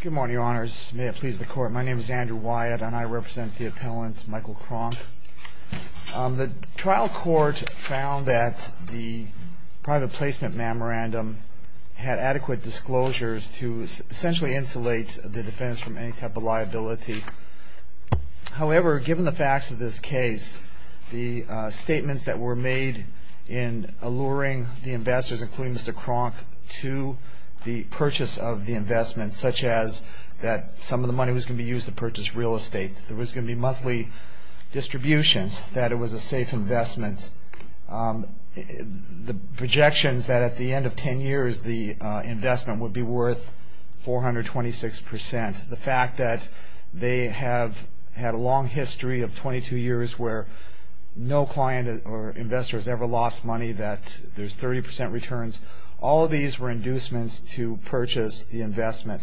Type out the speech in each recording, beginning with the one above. Good morning, Your Honors. May it please the Court. My name is Andrew Wyatt, and I represent the appellant, Michael Kronk. The trial court found that the private placement memorandum had adequate disclosures to essentially insulate the defendant from any type of liability. However, given the facts of this case, the statements that were made in alluring the investors, including Mr. Kronk, to the purchase of the investment, such as that some of the money was going to be used to purchase real estate, there was going to be monthly distributions, that it was a safe investment, the projections that at the end of 10 years the investment would be worth 426 percent. The fact that they have had a long history of 22 years where no client or investor has ever lost money, that there's 30 percent returns, all of these were inducements to purchase the investment.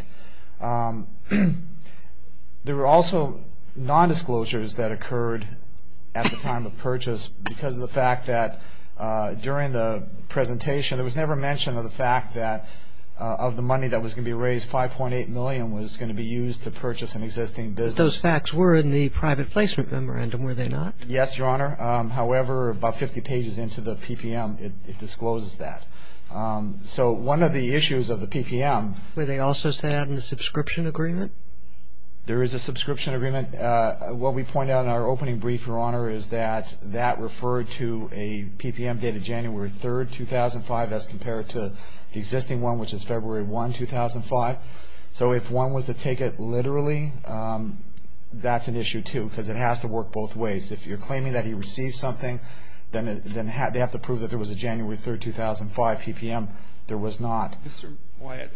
There were also nondisclosures that occurred at the time of purchase because of the fact that during the presentation, it was never mentioned of the fact that of the money that was going to be raised, 5.8 million was going to be used to purchase an existing business. Those facts were in the private placement memorandum, were they not? Yes, Your Honor. However, about 50 pages into the PPM, it discloses that. So one of the issues of the PPM Were they also set out in the subscription agreement? There is a subscription agreement. What we point out in our opening brief, Your Honor, is that that referred to a PPM dated January 3, 2005, as compared to the existing one, which is February 1, 2005. So if one was to take it literally, that's an issue, too, because it has to work both ways. If you're claiming that he received something, then they have to prove that there was a January 3, 2005 PPM. There was not. Mr. Wyatt,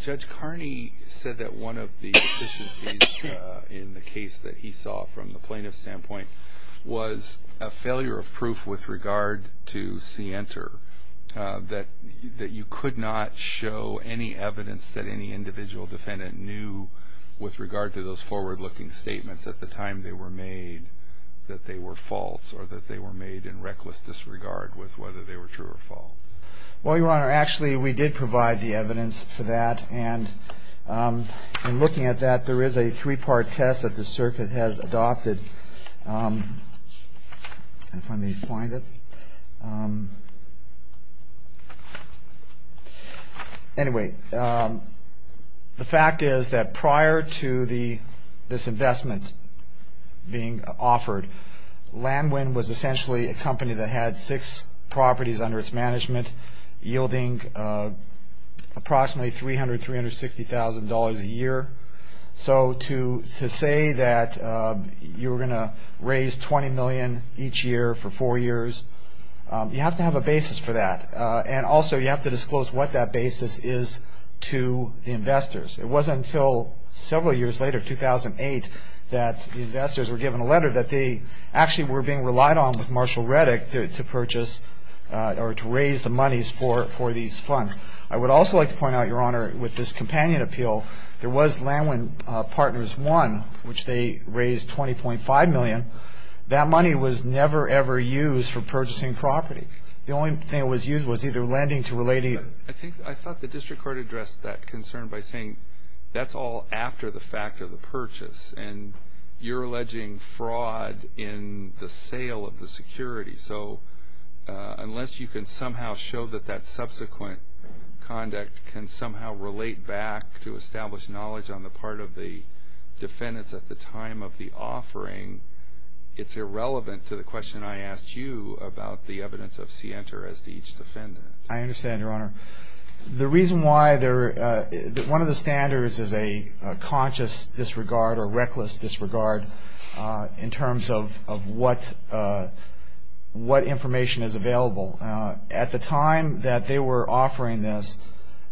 Judge Carney said that one of the deficiencies in the case that he saw from the plaintiff's standpoint was a failure of proof with regard to C enter, that you could not show any evidence that any individual defendant knew with regard to those forward-looking statements at the time they were made that they were false or that they were made in reckless disregard with whether they were true or false. Well, Your Honor, actually, we did provide the evidence for that, and in looking at that, there is a three-part test that the circuit has adopted. If I may find it. Anyway, the fact is that prior to this investment being offered, Land Wind was essentially a company that had six properties under its management, yielding approximately $300,000 to $360,000 a year. So to say that you were going to raise $20 million each year for four years, you have to have a basis for that, and also you have to disclose what that basis is to the investors. It wasn't until several years later, 2008, that the investors were given a letter that they actually were being relied on with Marshall Reddick to purchase or to raise the monies for these funds. I would also like to point out, Your Honor, with this companion appeal, there was Land Wind Partners 1, which they raised $20.5 million. That money was never, ever used for purchasing property. The only thing that was used was either lending to related... I thought the district court addressed that concern by saying that's all after the fact of the purchase, and you're alleging fraud in the sale of the security. So unless you can somehow show that that subsequent conduct can somehow relate back to established knowledge on the part of the defendants at the time of the offering, it's irrelevant to the question I asked you about the evidence of scienter as to each defendant. I understand, Your Honor. The reason why one of the standards is a conscious disregard or reckless disregard in terms of what information is available. At the time that they were offering this,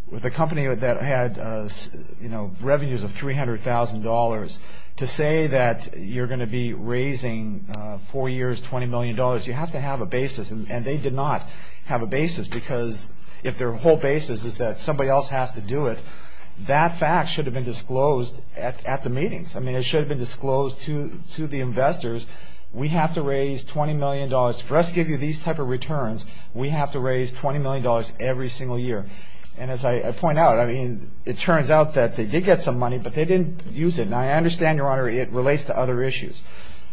with a company that had revenues of $300,000, to say that you're going to be raising four years $20 million, you have to have a basis, and they did not have a basis because if their whole basis is that somebody else has to do it, that fact should have been disclosed at the meetings. I mean, it should have been disclosed to the investors. We have to raise $20 million. For us to give you these type of returns, we have to raise $20 million every single year. And as I point out, I mean, it turns out that they did get some money, but they didn't use it. Now, I understand, Your Honor, it relates to other issues.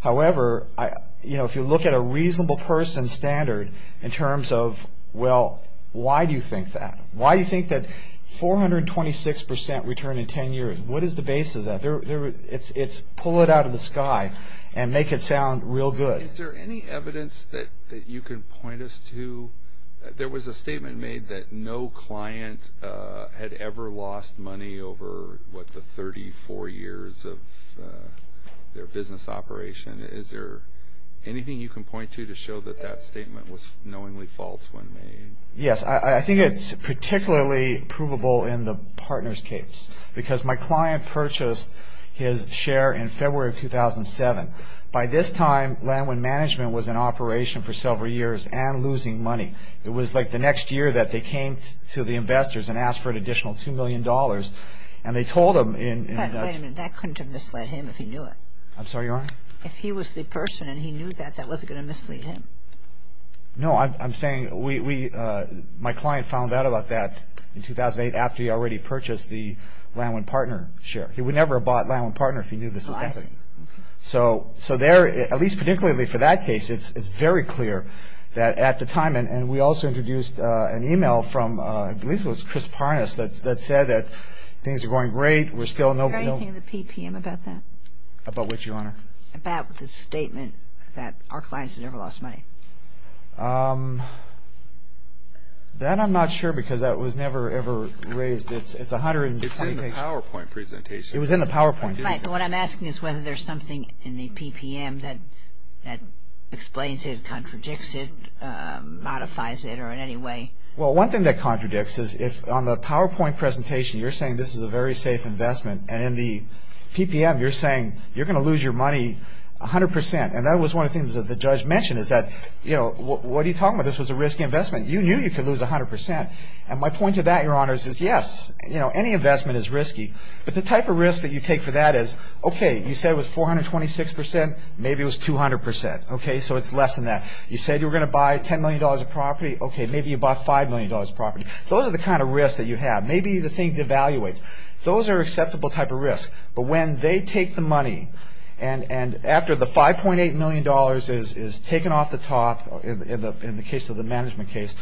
However, if you look at a reasonable person standard in terms of, well, why do you think that? Why do you think that 426% return in 10 years? What is the base of that? It's pull it out of the sky and make it sound real good. Is there any evidence that you can point us to? There was a statement made that no client had ever lost money over, what, the 34 years of their business operation. Is there anything you can point to to show that that statement was knowingly false when made? Yes, I think it's particularly provable in the partner's case because my client purchased his share in February of 2007. By this time, Landwind Management was in operation for several years and losing money. It was, like, the next year that they came to the investors and asked for an additional $2 million. And they told them in advance. Wait a minute. That couldn't have misled him if he knew it. I'm sorry, Your Honor? If he was the person and he knew that, that wasn't going to mislead him. No, I'm saying we, my client found out about that in 2008 after he already purchased the Landwind Partner share. He would never have bought Landwind Partner if he knew this was happening. Oh, I see. So there, at least particularly for that case, it's very clear that at the time, and we also introduced an e-mail from, I believe it was Chris Parnas, that said that things are going great, we're still no, no. About what, Your Honor? About the statement that our clients have never lost money. That I'm not sure because that was never, ever raised. It's a hundred and twenty-eight. It's in the PowerPoint presentation. It was in the PowerPoint. What I'm asking is whether there's something in the PPM that explains it, contradicts it, modifies it, or in any way. Well, one thing that contradicts is if on the PowerPoint presentation, you're saying this is a very safe investment, and in the PPM, you're saying you're going to lose your money a hundred percent. And that was one of the things that the judge mentioned is that, you know, what are you talking about? This was a risky investment. You knew you could lose a hundred percent. And my point to that, Your Honor, is yes. You know, any investment is risky. But the type of risk that you take for that is, okay, you said it was 426 percent. Maybe it was 200 percent. Okay, so it's less than that. You said you were going to buy $10 million of property. Okay, maybe you bought $5 million of property. Those are the kind of risks that you have. Maybe the thing devaluates. Those are acceptable type of risks. But when they take the money, and after the $5.8 million is taken off the top, in the case of the management case,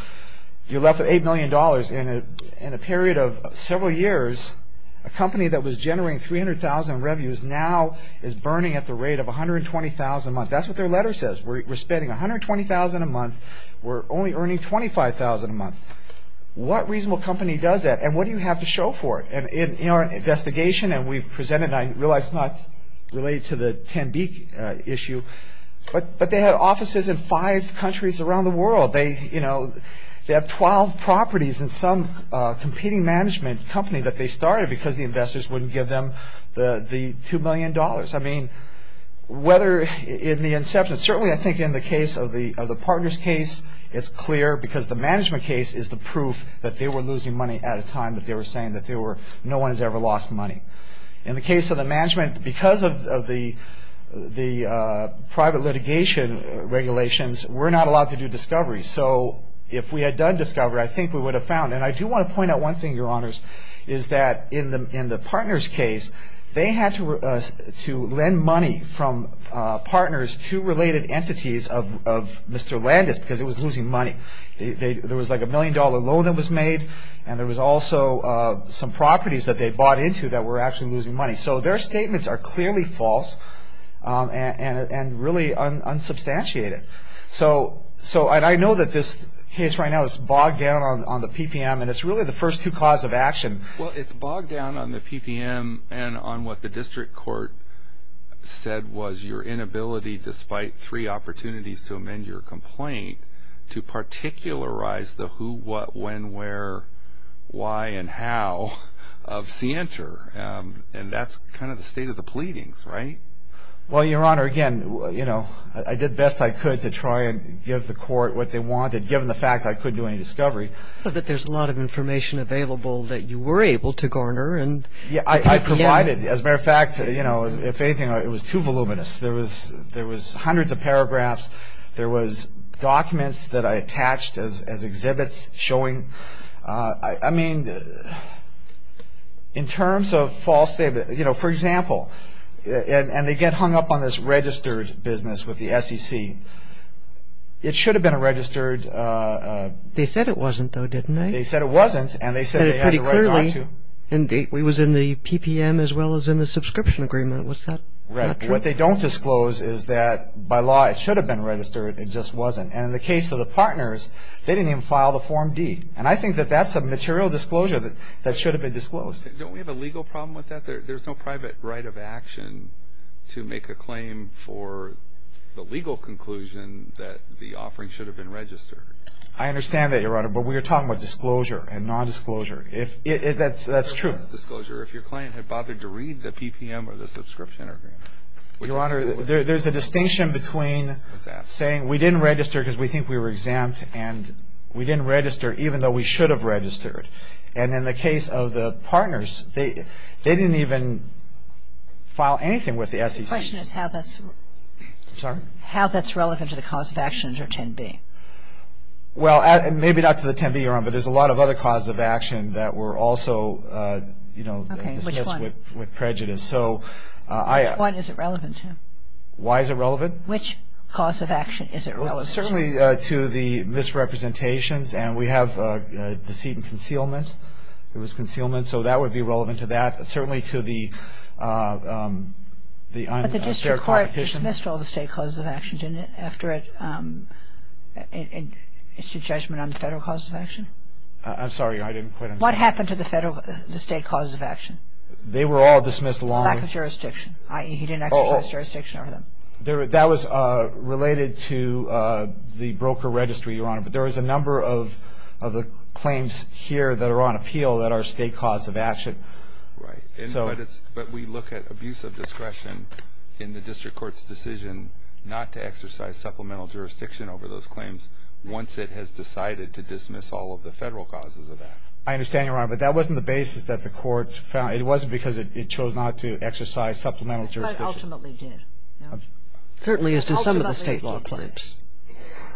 you're left with $8 million. In a period of several years, a company that was generating 300,000 revenues now is burning at the rate of 120,000 a month. That's what their letter says. We're spending 120,000 a month. We're only earning 25,000 a month. What reasonable company does that? And what do you have to show for it? In our investigation, and we've presented, and I realize it's not related to the Tanbeek issue, but they have offices in five countries around the world. They have 12 properties in some competing management company that they started because the investors wouldn't give them the $2 million. I mean, whether in the inception, certainly I think in the case of the Partners case, it's clear because the management case is the proof that they were losing money at a time that they were saying that no one has ever lost money. In the case of the management, because of the private litigation regulations, we're not allowed to do discovery. So if we had done discovery, I think we would have found, and I do want to point out one thing, Your Honors, is that in the Partners case, they had to lend money from Partners to related entities of Mr. Landis because it was losing money. There was like a $1 million loan that was made, and there was also some properties that they bought into that were actually losing money. So their statements are clearly false and really unsubstantiated. So I know that this case right now is bogged down on the PPM, and it's really the first two cause of action. Well, it's bogged down on the PPM and on what the district court said was your inability, despite three opportunities to amend your complaint, to particularize the who, what, when, where, why, and how of Sienter. And that's kind of the state of the pleadings, right? Well, Your Honor, again, I did the best I could to try and give the court what they wanted, given the fact I couldn't do any discovery. But there's a lot of information available that you were able to garner. I provided. As a matter of fact, if anything, it was too voluminous. There was hundreds of paragraphs. There was documents that I attached as exhibits showing. I mean, in terms of false statements, you know, for example, and they get hung up on this registered business with the SEC. It should have been a registered. They said it wasn't, though, didn't they? They said it wasn't, and they said they had to write it down, too. And it was in the PPM as well as in the subscription agreement. Was that not true? What they don't disclose is that, by law, it should have been registered. It just wasn't. And in the case of the partners, they didn't even file the Form D. And I think that that's a material disclosure that should have been disclosed. Don't we have a legal problem with that? There's no private right of action to make a claim for the legal conclusion that the offering should have been registered. I understand that, Your Honor, but we are talking about disclosure and nondisclosure. That's true. If your client had bothered to read the PPM or the subscription agreement. Your Honor, there's a distinction between saying we didn't register because we think we were exempt and we didn't register even though we should have registered. And in the case of the partners, they didn't even file anything with the SEC. The question is how that's relevant to the cause of action under 10b. But there's a lot of other causes of action that were also dismissed with prejudice. Which one is it relevant to? Why is it relevant? Which cause of action is it relevant to? Certainly to the misrepresentations. And we have deceit and concealment. There was concealment, so that would be relevant to that. Certainly to the unfair competition. But the district court dismissed all the state causes of action, didn't it, after its judgment on the federal causes of action? I'm sorry, I didn't quite understand. What happened to the federal, the state causes of action? They were all dismissed along. Lack of jurisdiction, i.e. he didn't exercise jurisdiction over them. That was related to the broker registry, Your Honor. But there was a number of the claims here that are on appeal that are state causes of action. Right. But we look at abuse of discretion in the district court's decision not to exercise supplemental jurisdiction over those claims once it has decided to dismiss all of the federal causes of action. I understand, Your Honor, but that wasn't the basis that the court found. It wasn't because it chose not to exercise supplemental jurisdiction. But ultimately did. Certainly as to some of the state law claims.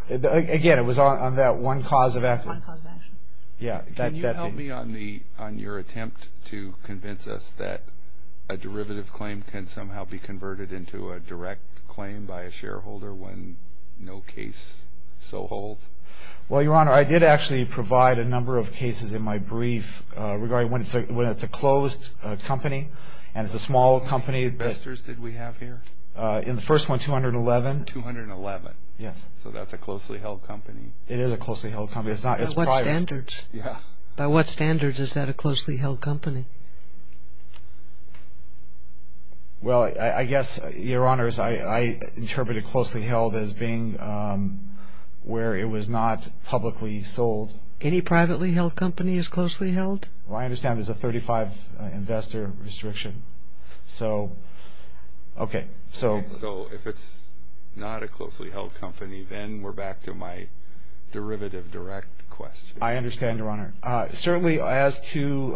One cause of action. Can you help me on your attempt to convince us that a derivative claim can somehow be converted into a direct claim by a shareholder when no case so holds? Well, Your Honor, I did actually provide a number of cases in my brief regarding when it's a closed company and it's a small company. How many investors did we have here? In the first one, 211. 211. Yes. So that's a closely held company. It is a closely held company. By what standards? Yeah. By what standards is that a closely held company? Well, I guess, Your Honor, I interpret a closely held as being where it was not publicly sold. Any privately held company is closely held? Well, I understand there's a 35 investor restriction. So, okay. So if it's not a closely held company, then we're back to my derivative direct question. I understand, Your Honor. Certainly as to,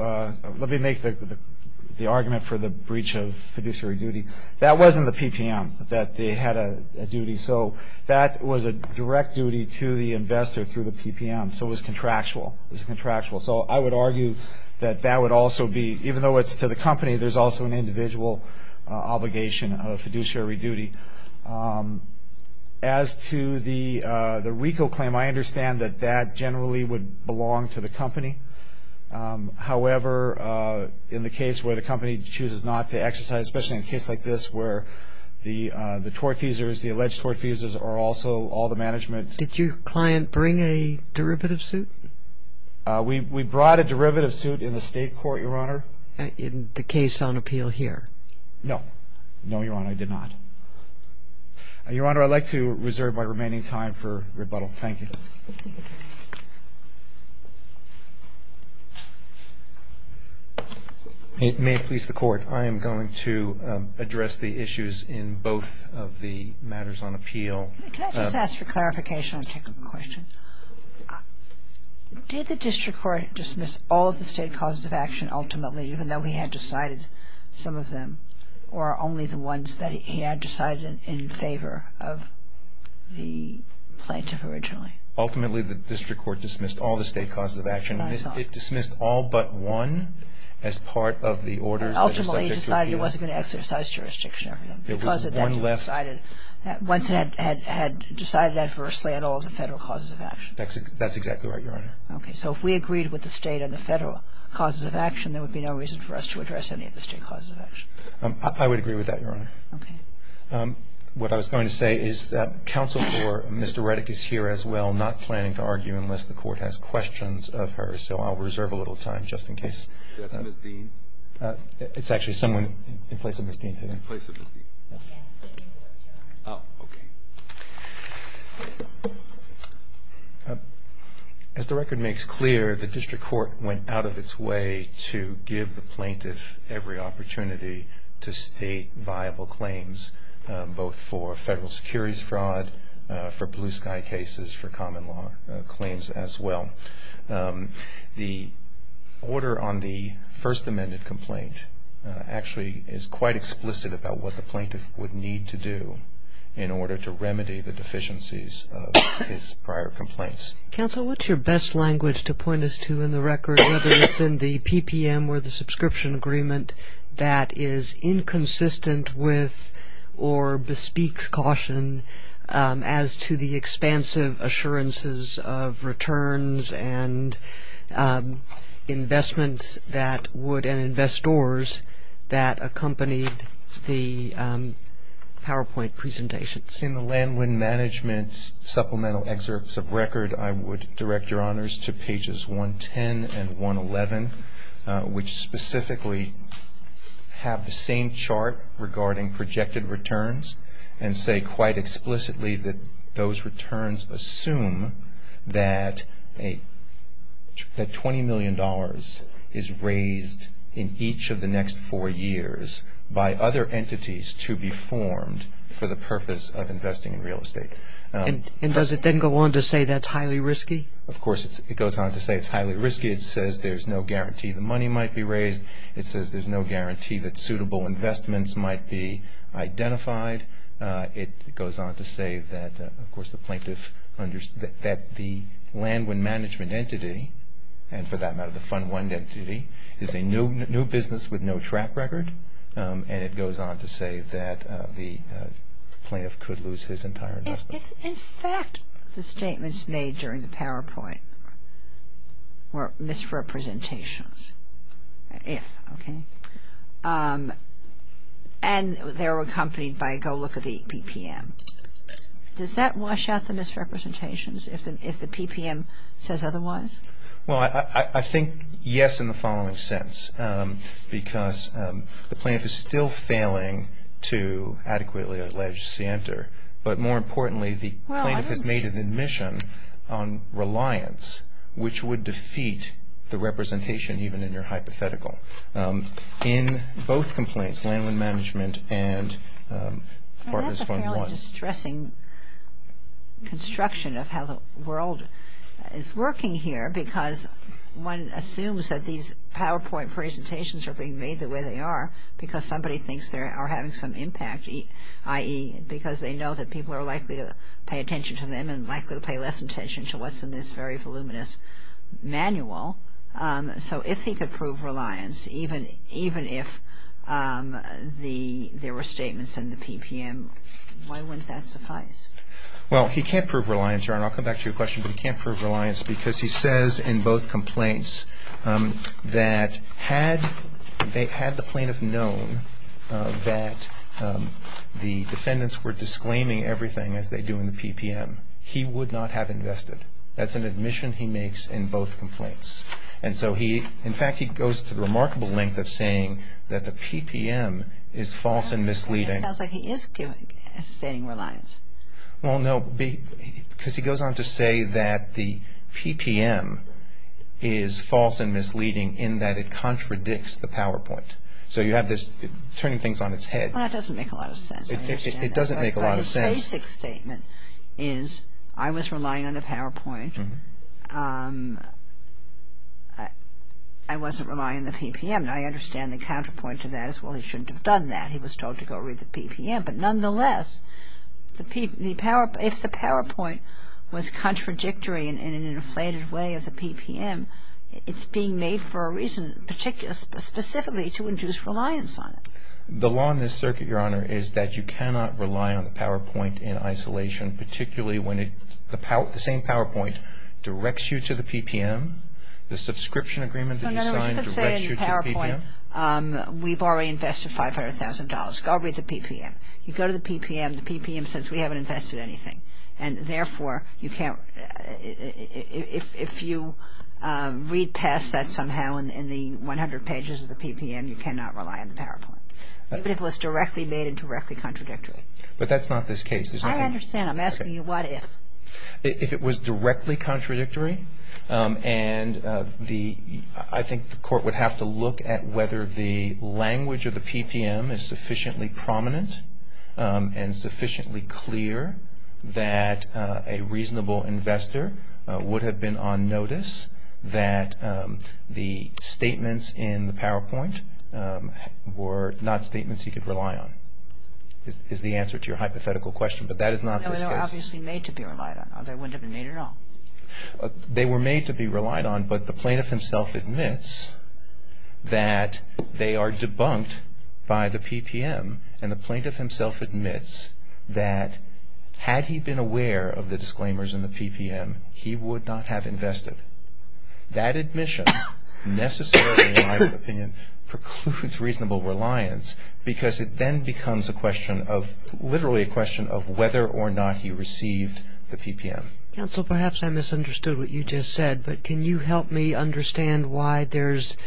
let me make the argument for the breach of fiduciary duty. That wasn't the PPM that they had a duty. So that was a direct duty to the investor through the PPM. So it was contractual. It was contractual. So I would argue that that would also be, even though it's to the company, there's also an individual obligation of fiduciary duty. As to the RICO claim, I understand that that generally would belong to the company. However, in the case where the company chooses not to exercise, especially in a case like this, where the tortfeasors, the alleged tortfeasors are also all the management. Did your client bring a derivative suit? We brought a derivative suit in the state court, Your Honor. In the case on appeal here? No. No, Your Honor, I did not. Your Honor, I'd like to reserve my remaining time for rebuttal. Thank you. May it please the Court. I am going to address the issues in both of the matters on appeal. Can I just ask for clarification on a technical question? Did the district court dismiss all of the state causes of action ultimately, even though he had decided some of them, or only the ones that he had decided in favor of the plaintiff originally? Ultimately, the district court dismissed all the state causes of action. It dismissed all but one as part of the orders that are subject to appeal. Ultimately, he decided it wasn't going to exercise jurisdiction over them. It was one left. He would have had to have decided it. Once he had decided adversely in all of the federal causes of action. That's exactly right, Your Honor. Okay. So if we agreed with the state and the federal causes of action, there would be no reason for us to address any of the state causes of action. I would agree with that, Your Honor. Okay. What I was going to say is that counsel for Ms. Doretic is here as well, not planning to argue, unless the Court has questions of her. So I'll reserve a little time, just in case. Is Ms. Dean? It's actually someone in place of Ms. Dean. In place of Ms. Dean. Oh, okay. As the record makes clear, the district court went out of its way to give the plaintiff every opportunity to state viable claims, both for federal securities fraud, for blue sky cases, for common law claims as well. The order on the first amended complaint actually is quite explicit about what the plaintiff would need to do in order to remedy the deficiencies of his prior complaints. Counsel, what's your best language to point us to in the record, whether it's in the PPM or the subscription agreement, that is inconsistent with or bespeaks caution as to the expansive assurances of the PowerPoint presentations? In the land wind management supplemental excerpts of record, I would direct your honors to pages 110 and 111, which specifically have the same chart regarding projected returns, and say quite explicitly that those returns assume that $20 million is raised in each of the next four years by other entities to be formed for the purpose of investing in real estate. And does it then go on to say that's highly risky? Of course, it goes on to say it's highly risky. It says there's no guarantee the money might be raised. It says there's no guarantee that suitable investments might be identified. It goes on to say that, of course, the land wind management entity, and for that matter the fund wind entity, is a new business with no track record, and it goes on to say that the plaintiff could lose his entire investment. If, in fact, the statements made during the PowerPoint were misrepresentations, if, okay, and they're accompanied by go look at the PPM, does that wash out the misrepresentations if the PPM says otherwise? Well, I think yes in the following sense, because the plaintiff is still failing to adequately allege SIENTA, but more importantly the plaintiff has made an admission on reliance, which would defeat the representation even in your hypothetical. In both complaints, land wind management and Partners Fund 1. It's a fairly distressing construction of how the world is working here because one assumes that these PowerPoint presentations are being made the way they are because somebody thinks they are having some impact, i.e. because they know that people are likely to pay attention to them and likely to pay less attention to what's in this very voluminous manual. So if he could prove reliance, even if there were statements in the PPM, why wouldn't that suffice? Well, he can't prove reliance. I'll come back to your question, but he can't prove reliance because he says in both complaints that had the plaintiff known that the defendants were disclaiming everything as they do in the PPM, he would not have invested. That's an admission he makes in both complaints. And so he, in fact, he goes to the remarkable length of saying that the PPM is false and misleading. It sounds like he is stating reliance. Well, no, because he goes on to say that the PPM is false and misleading in that it contradicts the PowerPoint. So you have this turning things on its head. Well, that doesn't make a lot of sense. It doesn't make a lot of sense. The basic statement is I was relying on the PowerPoint. I wasn't relying on the PPM. And I understand the counterpoint to that is, well, he shouldn't have done that. He was told to go read the PPM. But nonetheless, if the PowerPoint was contradictory in an inflated way as a PPM, it's being made for a reason, specifically to induce reliance on it. The law in this circuit, Your Honor, is that you cannot rely on the PowerPoint in isolation, particularly when the same PowerPoint directs you to the PPM. The subscription agreement that you signed directs you to the PPM. No, no, no. Let's just say in PowerPoint we've already invested $500,000. Go read the PPM. You go to the PPM, the PPM says we haven't invested anything. And, therefore, you can't ‑‑ if you read past that somehow in the 100 pages of the PPM, you cannot rely on the PowerPoint, even if it was directly made and directly contradictory. But that's not this case. I understand. I'm asking you what if. If it was directly contradictory, and I think the court would have to look at whether the language of the PPM is sufficiently prominent and sufficiently clear that a reasonable investor would have been on notice that the statements in the PowerPoint were not statements he could rely on, is the answer to your hypothetical question. But that is not this case. No, they were obviously made to be relied on. They wouldn't have been made at all. They were made to be relied on, but the plaintiff himself admits that they are debunked by the PPM. And the plaintiff himself admits that had he been aware of the disclaimers in the PPM, he would not have invested. That admission necessarily, in my opinion, precludes reasonable reliance, because it then becomes a question of ‑‑ literally a question of whether or not he received the PPM. Counsel, perhaps I misunderstood what you just said, but can you help me understand why there's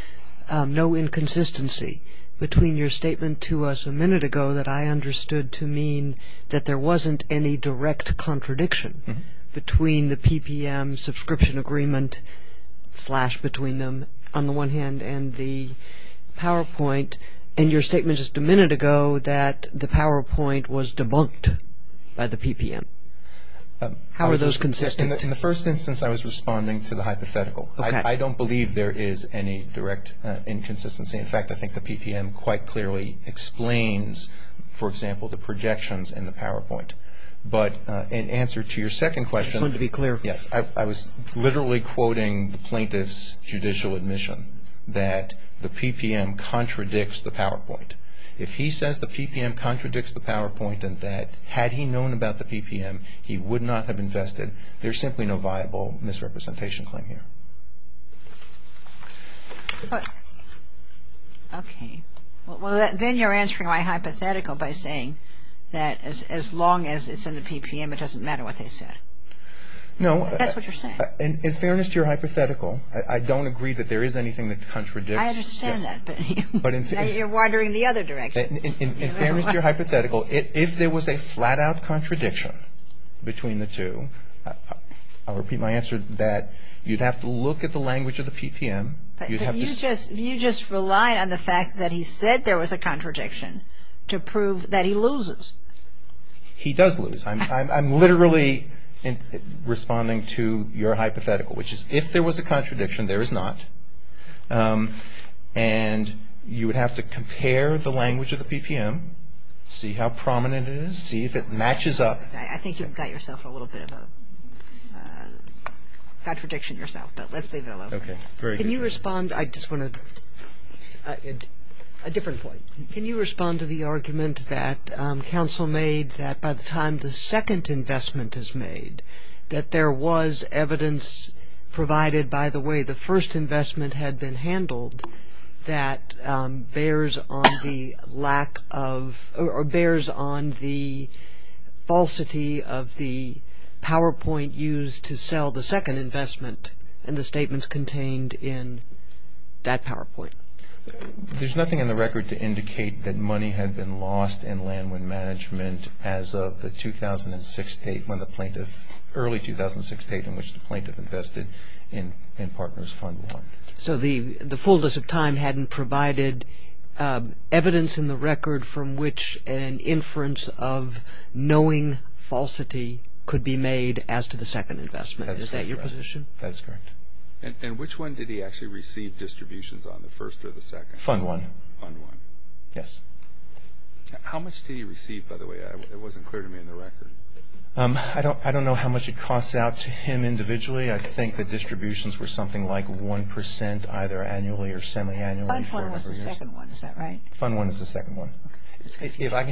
no inconsistency between your statement to us a minute ago that I understood to mean that there wasn't any direct contradiction between the PPM subscription agreement, slash between them, on the one hand, and the PowerPoint, and your statement just a minute ago that the PowerPoint was debunked by the PPM. How are those consistent? In the first instance, I was responding to the hypothetical. Okay. I don't believe there is any direct inconsistency. In fact, I think the PPM quite clearly explains, for example, the projections in the PowerPoint. But in answer to your second question ‑‑ I just wanted to be clear. Yes. I was literally quoting the plaintiff's judicial admission that the PPM contradicts the PowerPoint. If he says the PPM contradicts the PowerPoint and that had he known about the PPM, he would not have invested, there's simply no viable misrepresentation claim here. Okay. Well, then you're answering my hypothetical by saying that as long as it's in the PPM, it doesn't matter what they said. No. That's what you're saying. In fairness to your hypothetical, I don't agree that there is anything that contradicts. I understand that, but you're wandering the other direction. In fairness to your hypothetical, if there was a flat‑out contradiction between the two, I'll repeat my answer that you'd have to look at the language of the PPM. You just rely on the fact that he said there was a contradiction to prove that he loses. He does lose. I'm literally responding to your hypothetical, which is if there was a contradiction, there is not, and you would have to compare the language of the PPM, see how prominent it is, see if it matches up. I think you've got yourself a little bit of a contradiction yourself, but let's leave it alone for now. Okay. Can you respond? I just want a different point. Can you respond to the argument that counsel made that by the time the second investment is made, that there was evidence provided by the way the first investment had been handled that bears on the lack of or bears on the falsity of the PowerPoint used to sell the second investment and the statements contained in that PowerPoint? There's nothing in the record to indicate that money had been lost in land as of the 2006 date when the plaintiff, early 2006 date in which the plaintiff invested in Partners Fund 1. So the fullness of time hadn't provided evidence in the record from which an inference of knowing falsity could be made as to the second investment. That's correct. Is that your position? That's correct. And which one did he actually receive distributions on, the first or the second? Fund 1. Fund 1. Yes. How much did he receive, by the way? It wasn't clear to me in the record. I don't know how much it costs out to him individually. I think the distributions were something like 1% either annually or semi-annually. Fund 1 was the second one, is that right? Fund 1 is the second one.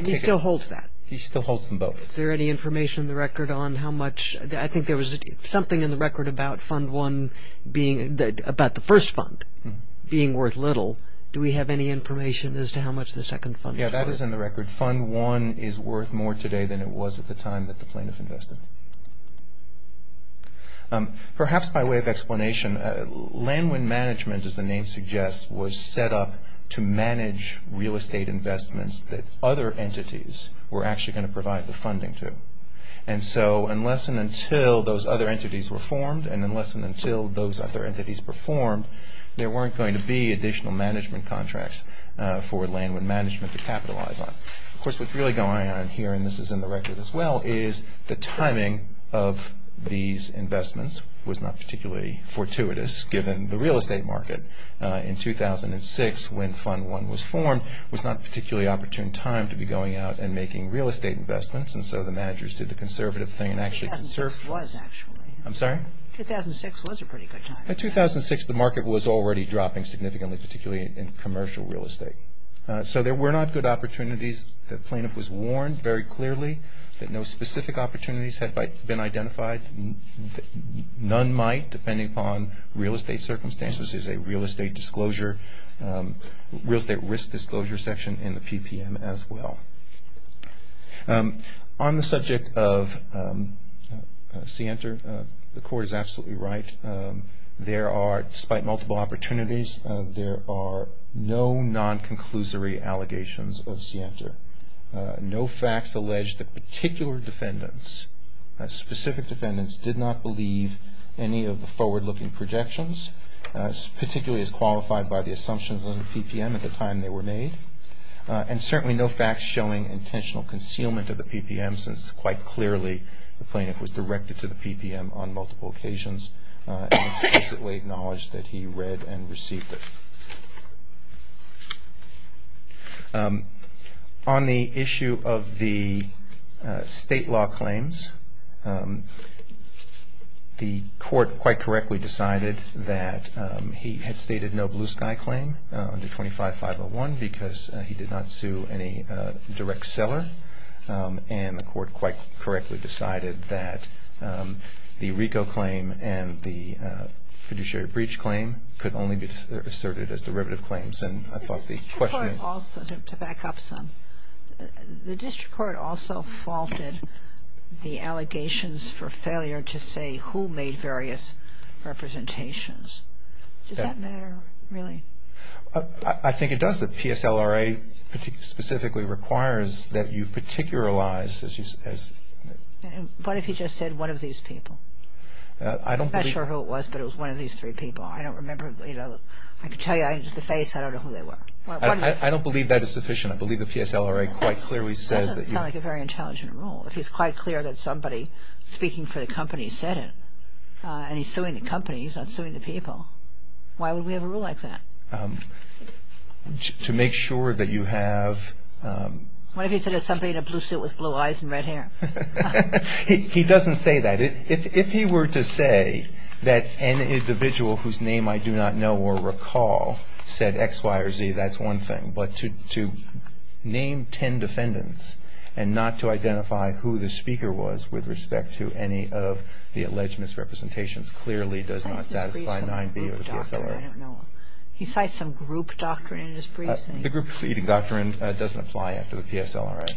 He still holds that. He still holds them both. Is there any information in the record on how much? I think there was something in the record about Fund 1 being, about the first fund being worth little. Do we have any information as to how much the second fund was worth? Yes, that is in the record. Fund 1 is worth more today than it was at the time that the plaintiff invested. Perhaps by way of explanation, Land Wind Management, as the name suggests, was set up to manage real estate investments that other entities were actually going to provide the funding to. And so unless and until those other entities were formed and unless and until those other entities were formed, there weren't going to be additional management contracts for Land Wind Management to capitalize on. Of course, what's really going on here, and this is in the record as well, is the timing of these investments was not particularly fortuitous, given the real estate market. In 2006, when Fund 1 was formed, it was not a particularly opportune time to be going out and making real estate investments, and so the managers did the conservative thing and actually conserved. I'm sorry? 2006 was a pretty good time. In 2006, the market was already dropping significantly, particularly in commercial real estate. So there were not good opportunities. The plaintiff was warned very clearly that no specific opportunities had been identified. None might, depending upon real estate circumstances. There's a real estate risk disclosure section in the PPM as well. On the subject of Sienter, the Court is absolutely right. There are, despite multiple opportunities, there are no non-conclusory allegations of Sienter. No facts allege that particular defendants, specific defendants, did not believe any of the forward-looking projections, particularly as qualified by the assumptions of the PPM at the time they were made. And certainly no facts showing intentional concealment of the PPM, since quite clearly the plaintiff was directed to the PPM on multiple occasions and explicitly acknowledged that he read and received it. On the issue of the state law claims, the Court quite correctly decided that he had stated no Blue Sky claim under 25-501 because he did not sue any direct seller. And the Court quite correctly decided that the RICO claim and the fiduciary breach claim could only be asserted as derivative claims. The district court also faulted the allegations for failure to say who made various representations. Does that matter, really? I think it does. The PSLRA specifically requires that you particularize. What if he just said one of these people? I'm not sure who it was, but it was one of these three people. I don't remember. I can tell you just the face. I don't know who they were. I don't believe that is sufficient. I believe the PSLRA quite clearly says that you That doesn't sound like a very intelligent rule. If he's quite clear that somebody speaking for the company said it and he's suing the company, he's not suing the people. Why would we have a rule like that? To make sure that you have What if he said there's somebody in a blue suit with blue eyes and red hair? He doesn't say that. If he were to say that an individual whose name I do not know or recall said X, Y, or Z, that's one thing. But to name ten defendants and not to identify who the speaker was with respect to any of the alleged misrepresentations clearly does not satisfy 9B of the PSLRA. He cites some group doctrine in his briefs. The group doctrine doesn't apply after the PSLRA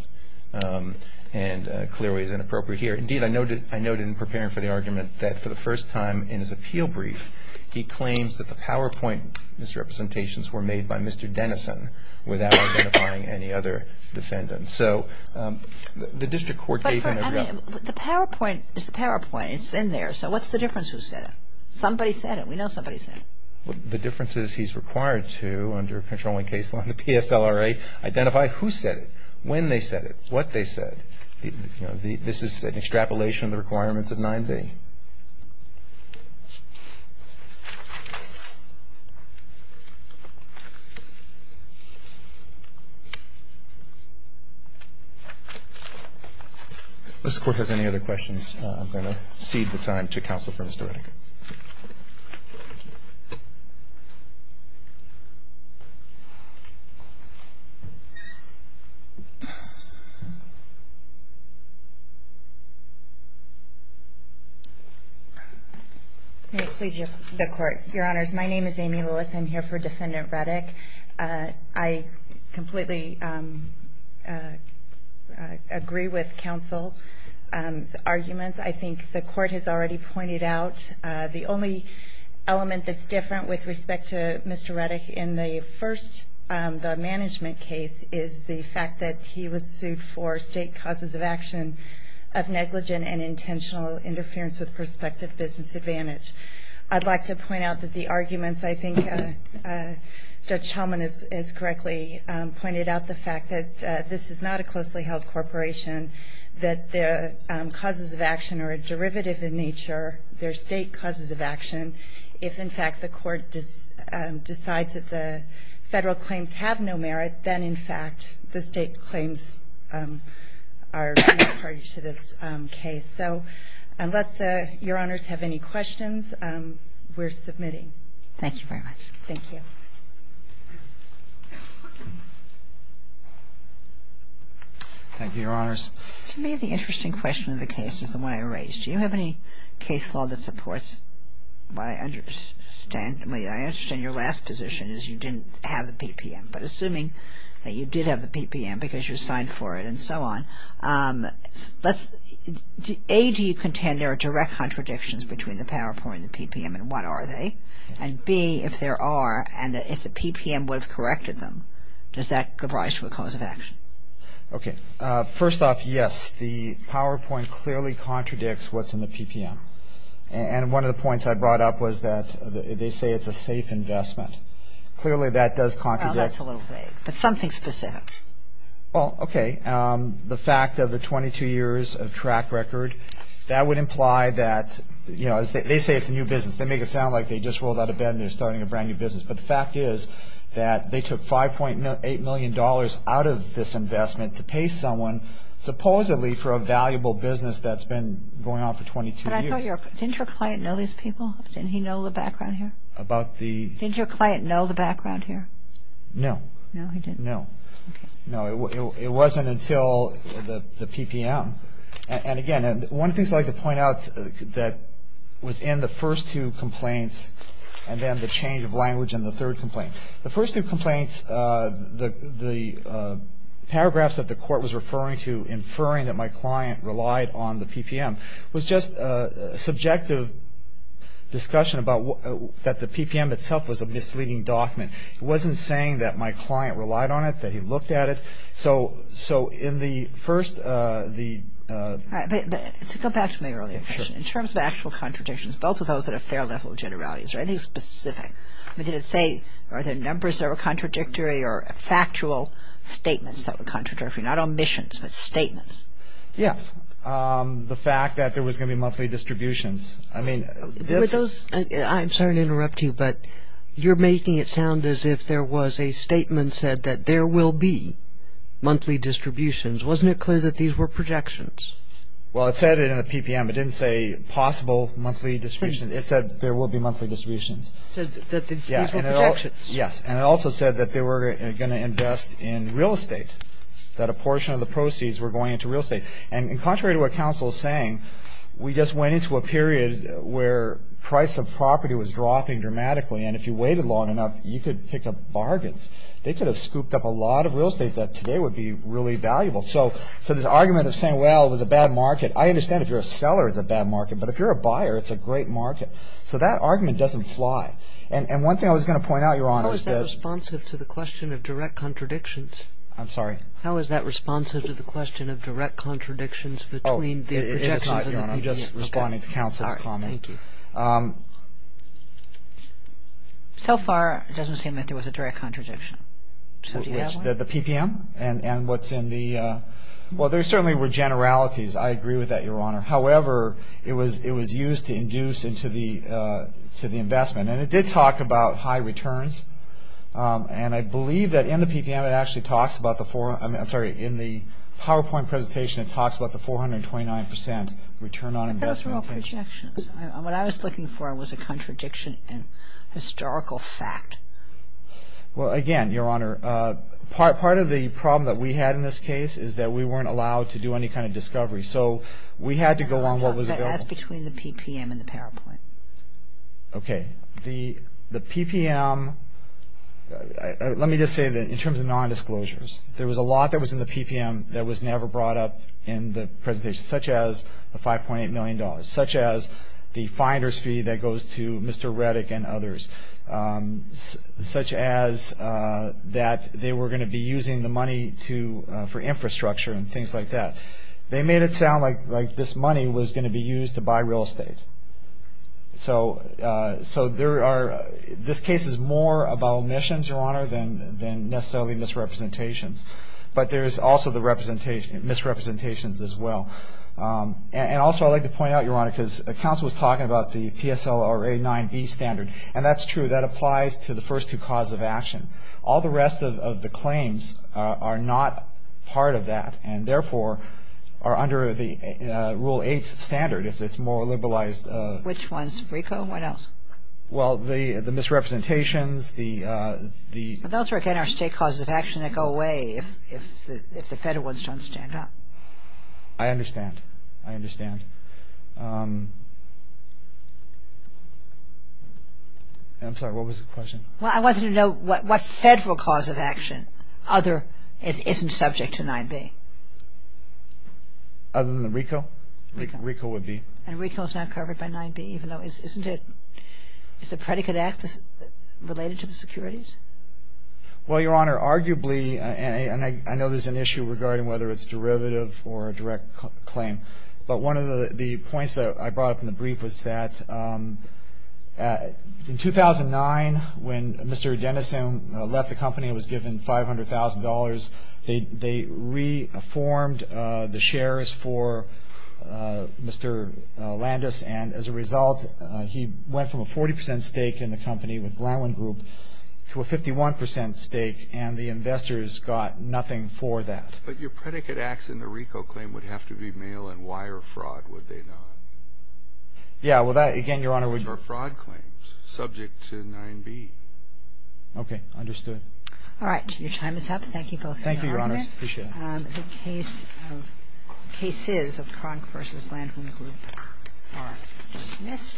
and clearly is inappropriate here. Indeed, I noted in preparing for the argument that for the first time in his appeal brief, he claims that the PowerPoint misrepresentations were made by Mr. Dennison without identifying any other defendants. So the district court gave him a... But the PowerPoint is the PowerPoint. It's in there. So what's the difference who said it? Somebody said it. We know somebody said it. The difference is he's required to, under a controlling case law in the PSLRA, identify who said it, when they said it, what they said. This is an extrapolation of the requirements of 9B. If the Court has any other questions, I'm going to cede the time to counsel for Mr. Redeker. May it please the Court. Your Honors, my name is Amy Lewis. I'm here for Defendant Redek. As I think the Court has already pointed out, the only element that's different with respect to Mr. Redek in the first, the management case, is the fact that he was sued for state causes of action of negligent and intentional interference with prospective business advantage. I'd like to point out that the arguments, I think Judge Hellman has correctly pointed out the fact that this is not a closely held corporation, that the causes of action are a derivative in nature. They're state causes of action. If, in fact, the Court decides that the Federal claims have no merit, then, in fact, the state claims are party to this case. So unless Your Honors have any questions, we're submitting. Thank you very much. Thank you. Thank you, Your Honors. To me, the interesting question of the case is the one I raised. Do you have any case law that supports what I understand? I mean, I understand your last position is you didn't have the PPM, but assuming that you did have the PPM because you were signed for it and so on, A, do you contend there are direct contradictions between the PowerPoint and the PPM and what are they? And, B, if there are and if the PPM would have corrected them, does that give rise to a cause of action? Okay. First off, yes, the PowerPoint clearly contradicts what's in the PPM. And one of the points I brought up was that they say it's a safe investment. Clearly that does contradict. Well, that's a little vague, but something specific. Well, okay. They say it's a new business. They make it sound like they just rolled out of bed and they're starting a brand new business. But the fact is that they took $5.8 million out of this investment to pay someone supposedly for a valuable business that's been going on for 22 years. Didn't your client know these people? Didn't he know the background here? Didn't your client know the background here? No. No, he didn't. No. Okay. No, it wasn't until the PPM. And again, one of the things I'd like to point out that was in the first two complaints and then the change of language in the third complaint. The first two complaints, the paragraphs that the court was referring to, inferring that my client relied on the PPM, was just a subjective discussion that the PPM itself was a misleading document. It wasn't saying that my client relied on it, that he looked at it. So in the first, the- All right. But to go back to my earlier question. Sure. In terms of actual contradictions, both of those at a fair level of generalities, or anything specific, did it say are there numbers that were contradictory or factual statements that were contradictory, not omissions, but statements? Yes. The fact that there was going to be monthly distributions. I mean, this- I'm sorry to interrupt you, but you're making it sound as if there was a statement said that there will be monthly distributions. Wasn't it clear that these were projections? Well, it said it in the PPM. It didn't say possible monthly distributions. It said there will be monthly distributions. It said that these were projections. Yes. And it also said that they were going to invest in real estate, that a portion of the proceeds were going into real estate. And contrary to what counsel is saying, we just went into a period where price of property was dropping dramatically. And if you waited long enough, you could pick up bargains. They could have scooped up a lot of real estate that today would be really valuable. So this argument of saying, well, it was a bad market, I understand if you're a seller, it's a bad market. But if you're a buyer, it's a great market. So that argument doesn't fly. And one thing I was going to point out, Your Honor, is that- How is that responsive to the question of direct contradictions? I'm sorry? Your Honor, I'm just responding to counsel's comment. Thank you. So far, it doesn't seem like there was a direct contradiction. The PPM? And what's in the- Well, there certainly were generalities. I agree with that, Your Honor. However, it was used to induce into the investment. And it did talk about high returns. And I believe that in the PPM, it actually talks about the- I'm sorry, in the PowerPoint presentation, it talks about the 429 percent return on investment. Those were all projections. What I was looking for was a contradiction in historical fact. Well, again, Your Honor, part of the problem that we had in this case is that we weren't allowed to do any kind of discovery. So we had to go on what was available. That's between the PPM and the PowerPoint. Okay. The PPM, let me just say that in terms of nondisclosures, there was a lot that was in the PPM that was never brought up in the presentation, such as the $5.8 million, such as the finder's fee that goes to Mr. Reddick and others, such as that they were going to be using the money for infrastructure and things like that. They made it sound like this money was going to be used to buy real estate. So there are-this case is more about omissions, Your Honor, than necessarily misrepresentations. But there is also the misrepresentations as well. And also I'd like to point out, Your Honor, because the counsel was talking about the PSLRA 9b standard, and that's true. That applies to the first two causes of action. All the rest of the claims are not part of that and therefore are under the Rule 8 standard. It's more liberalized. Which ones? RICO? What else? Well, the misrepresentations, the- Those are, again, our state causes of action that go away if the federal ones don't stand up. I understand. I understand. I'm sorry. What was the question? Well, I wanted to know what federal cause of action other-isn't subject to 9b. Other than the RICO? RICO. RICO would be. And RICO is not covered by 9b even though-isn't it-is the predicate act related to the securities? Well, Your Honor, arguably, and I know there's an issue regarding whether it's derivative or a direct claim, but one of the points that I brought up in the brief was that in 2009 when Mr. Dennison left the company and was given $500,000, they reformed the shares for Mr. Landis, and as a result he went from a 40 percent stake in the company with Glenwin Group to a 51 percent stake, and the investors got nothing for that. But your predicate acts in the RICO claim would have to be mail-in wire fraud, would they not? Yeah, well, that again, Your Honor, would- Or fraud claims subject to 9b. Okay. Understood. All right. Your time is up. Thank you both for your argument. Thank you, Your Honor. I appreciate it. The cases of Kronk v. Landwin Group are dismissed.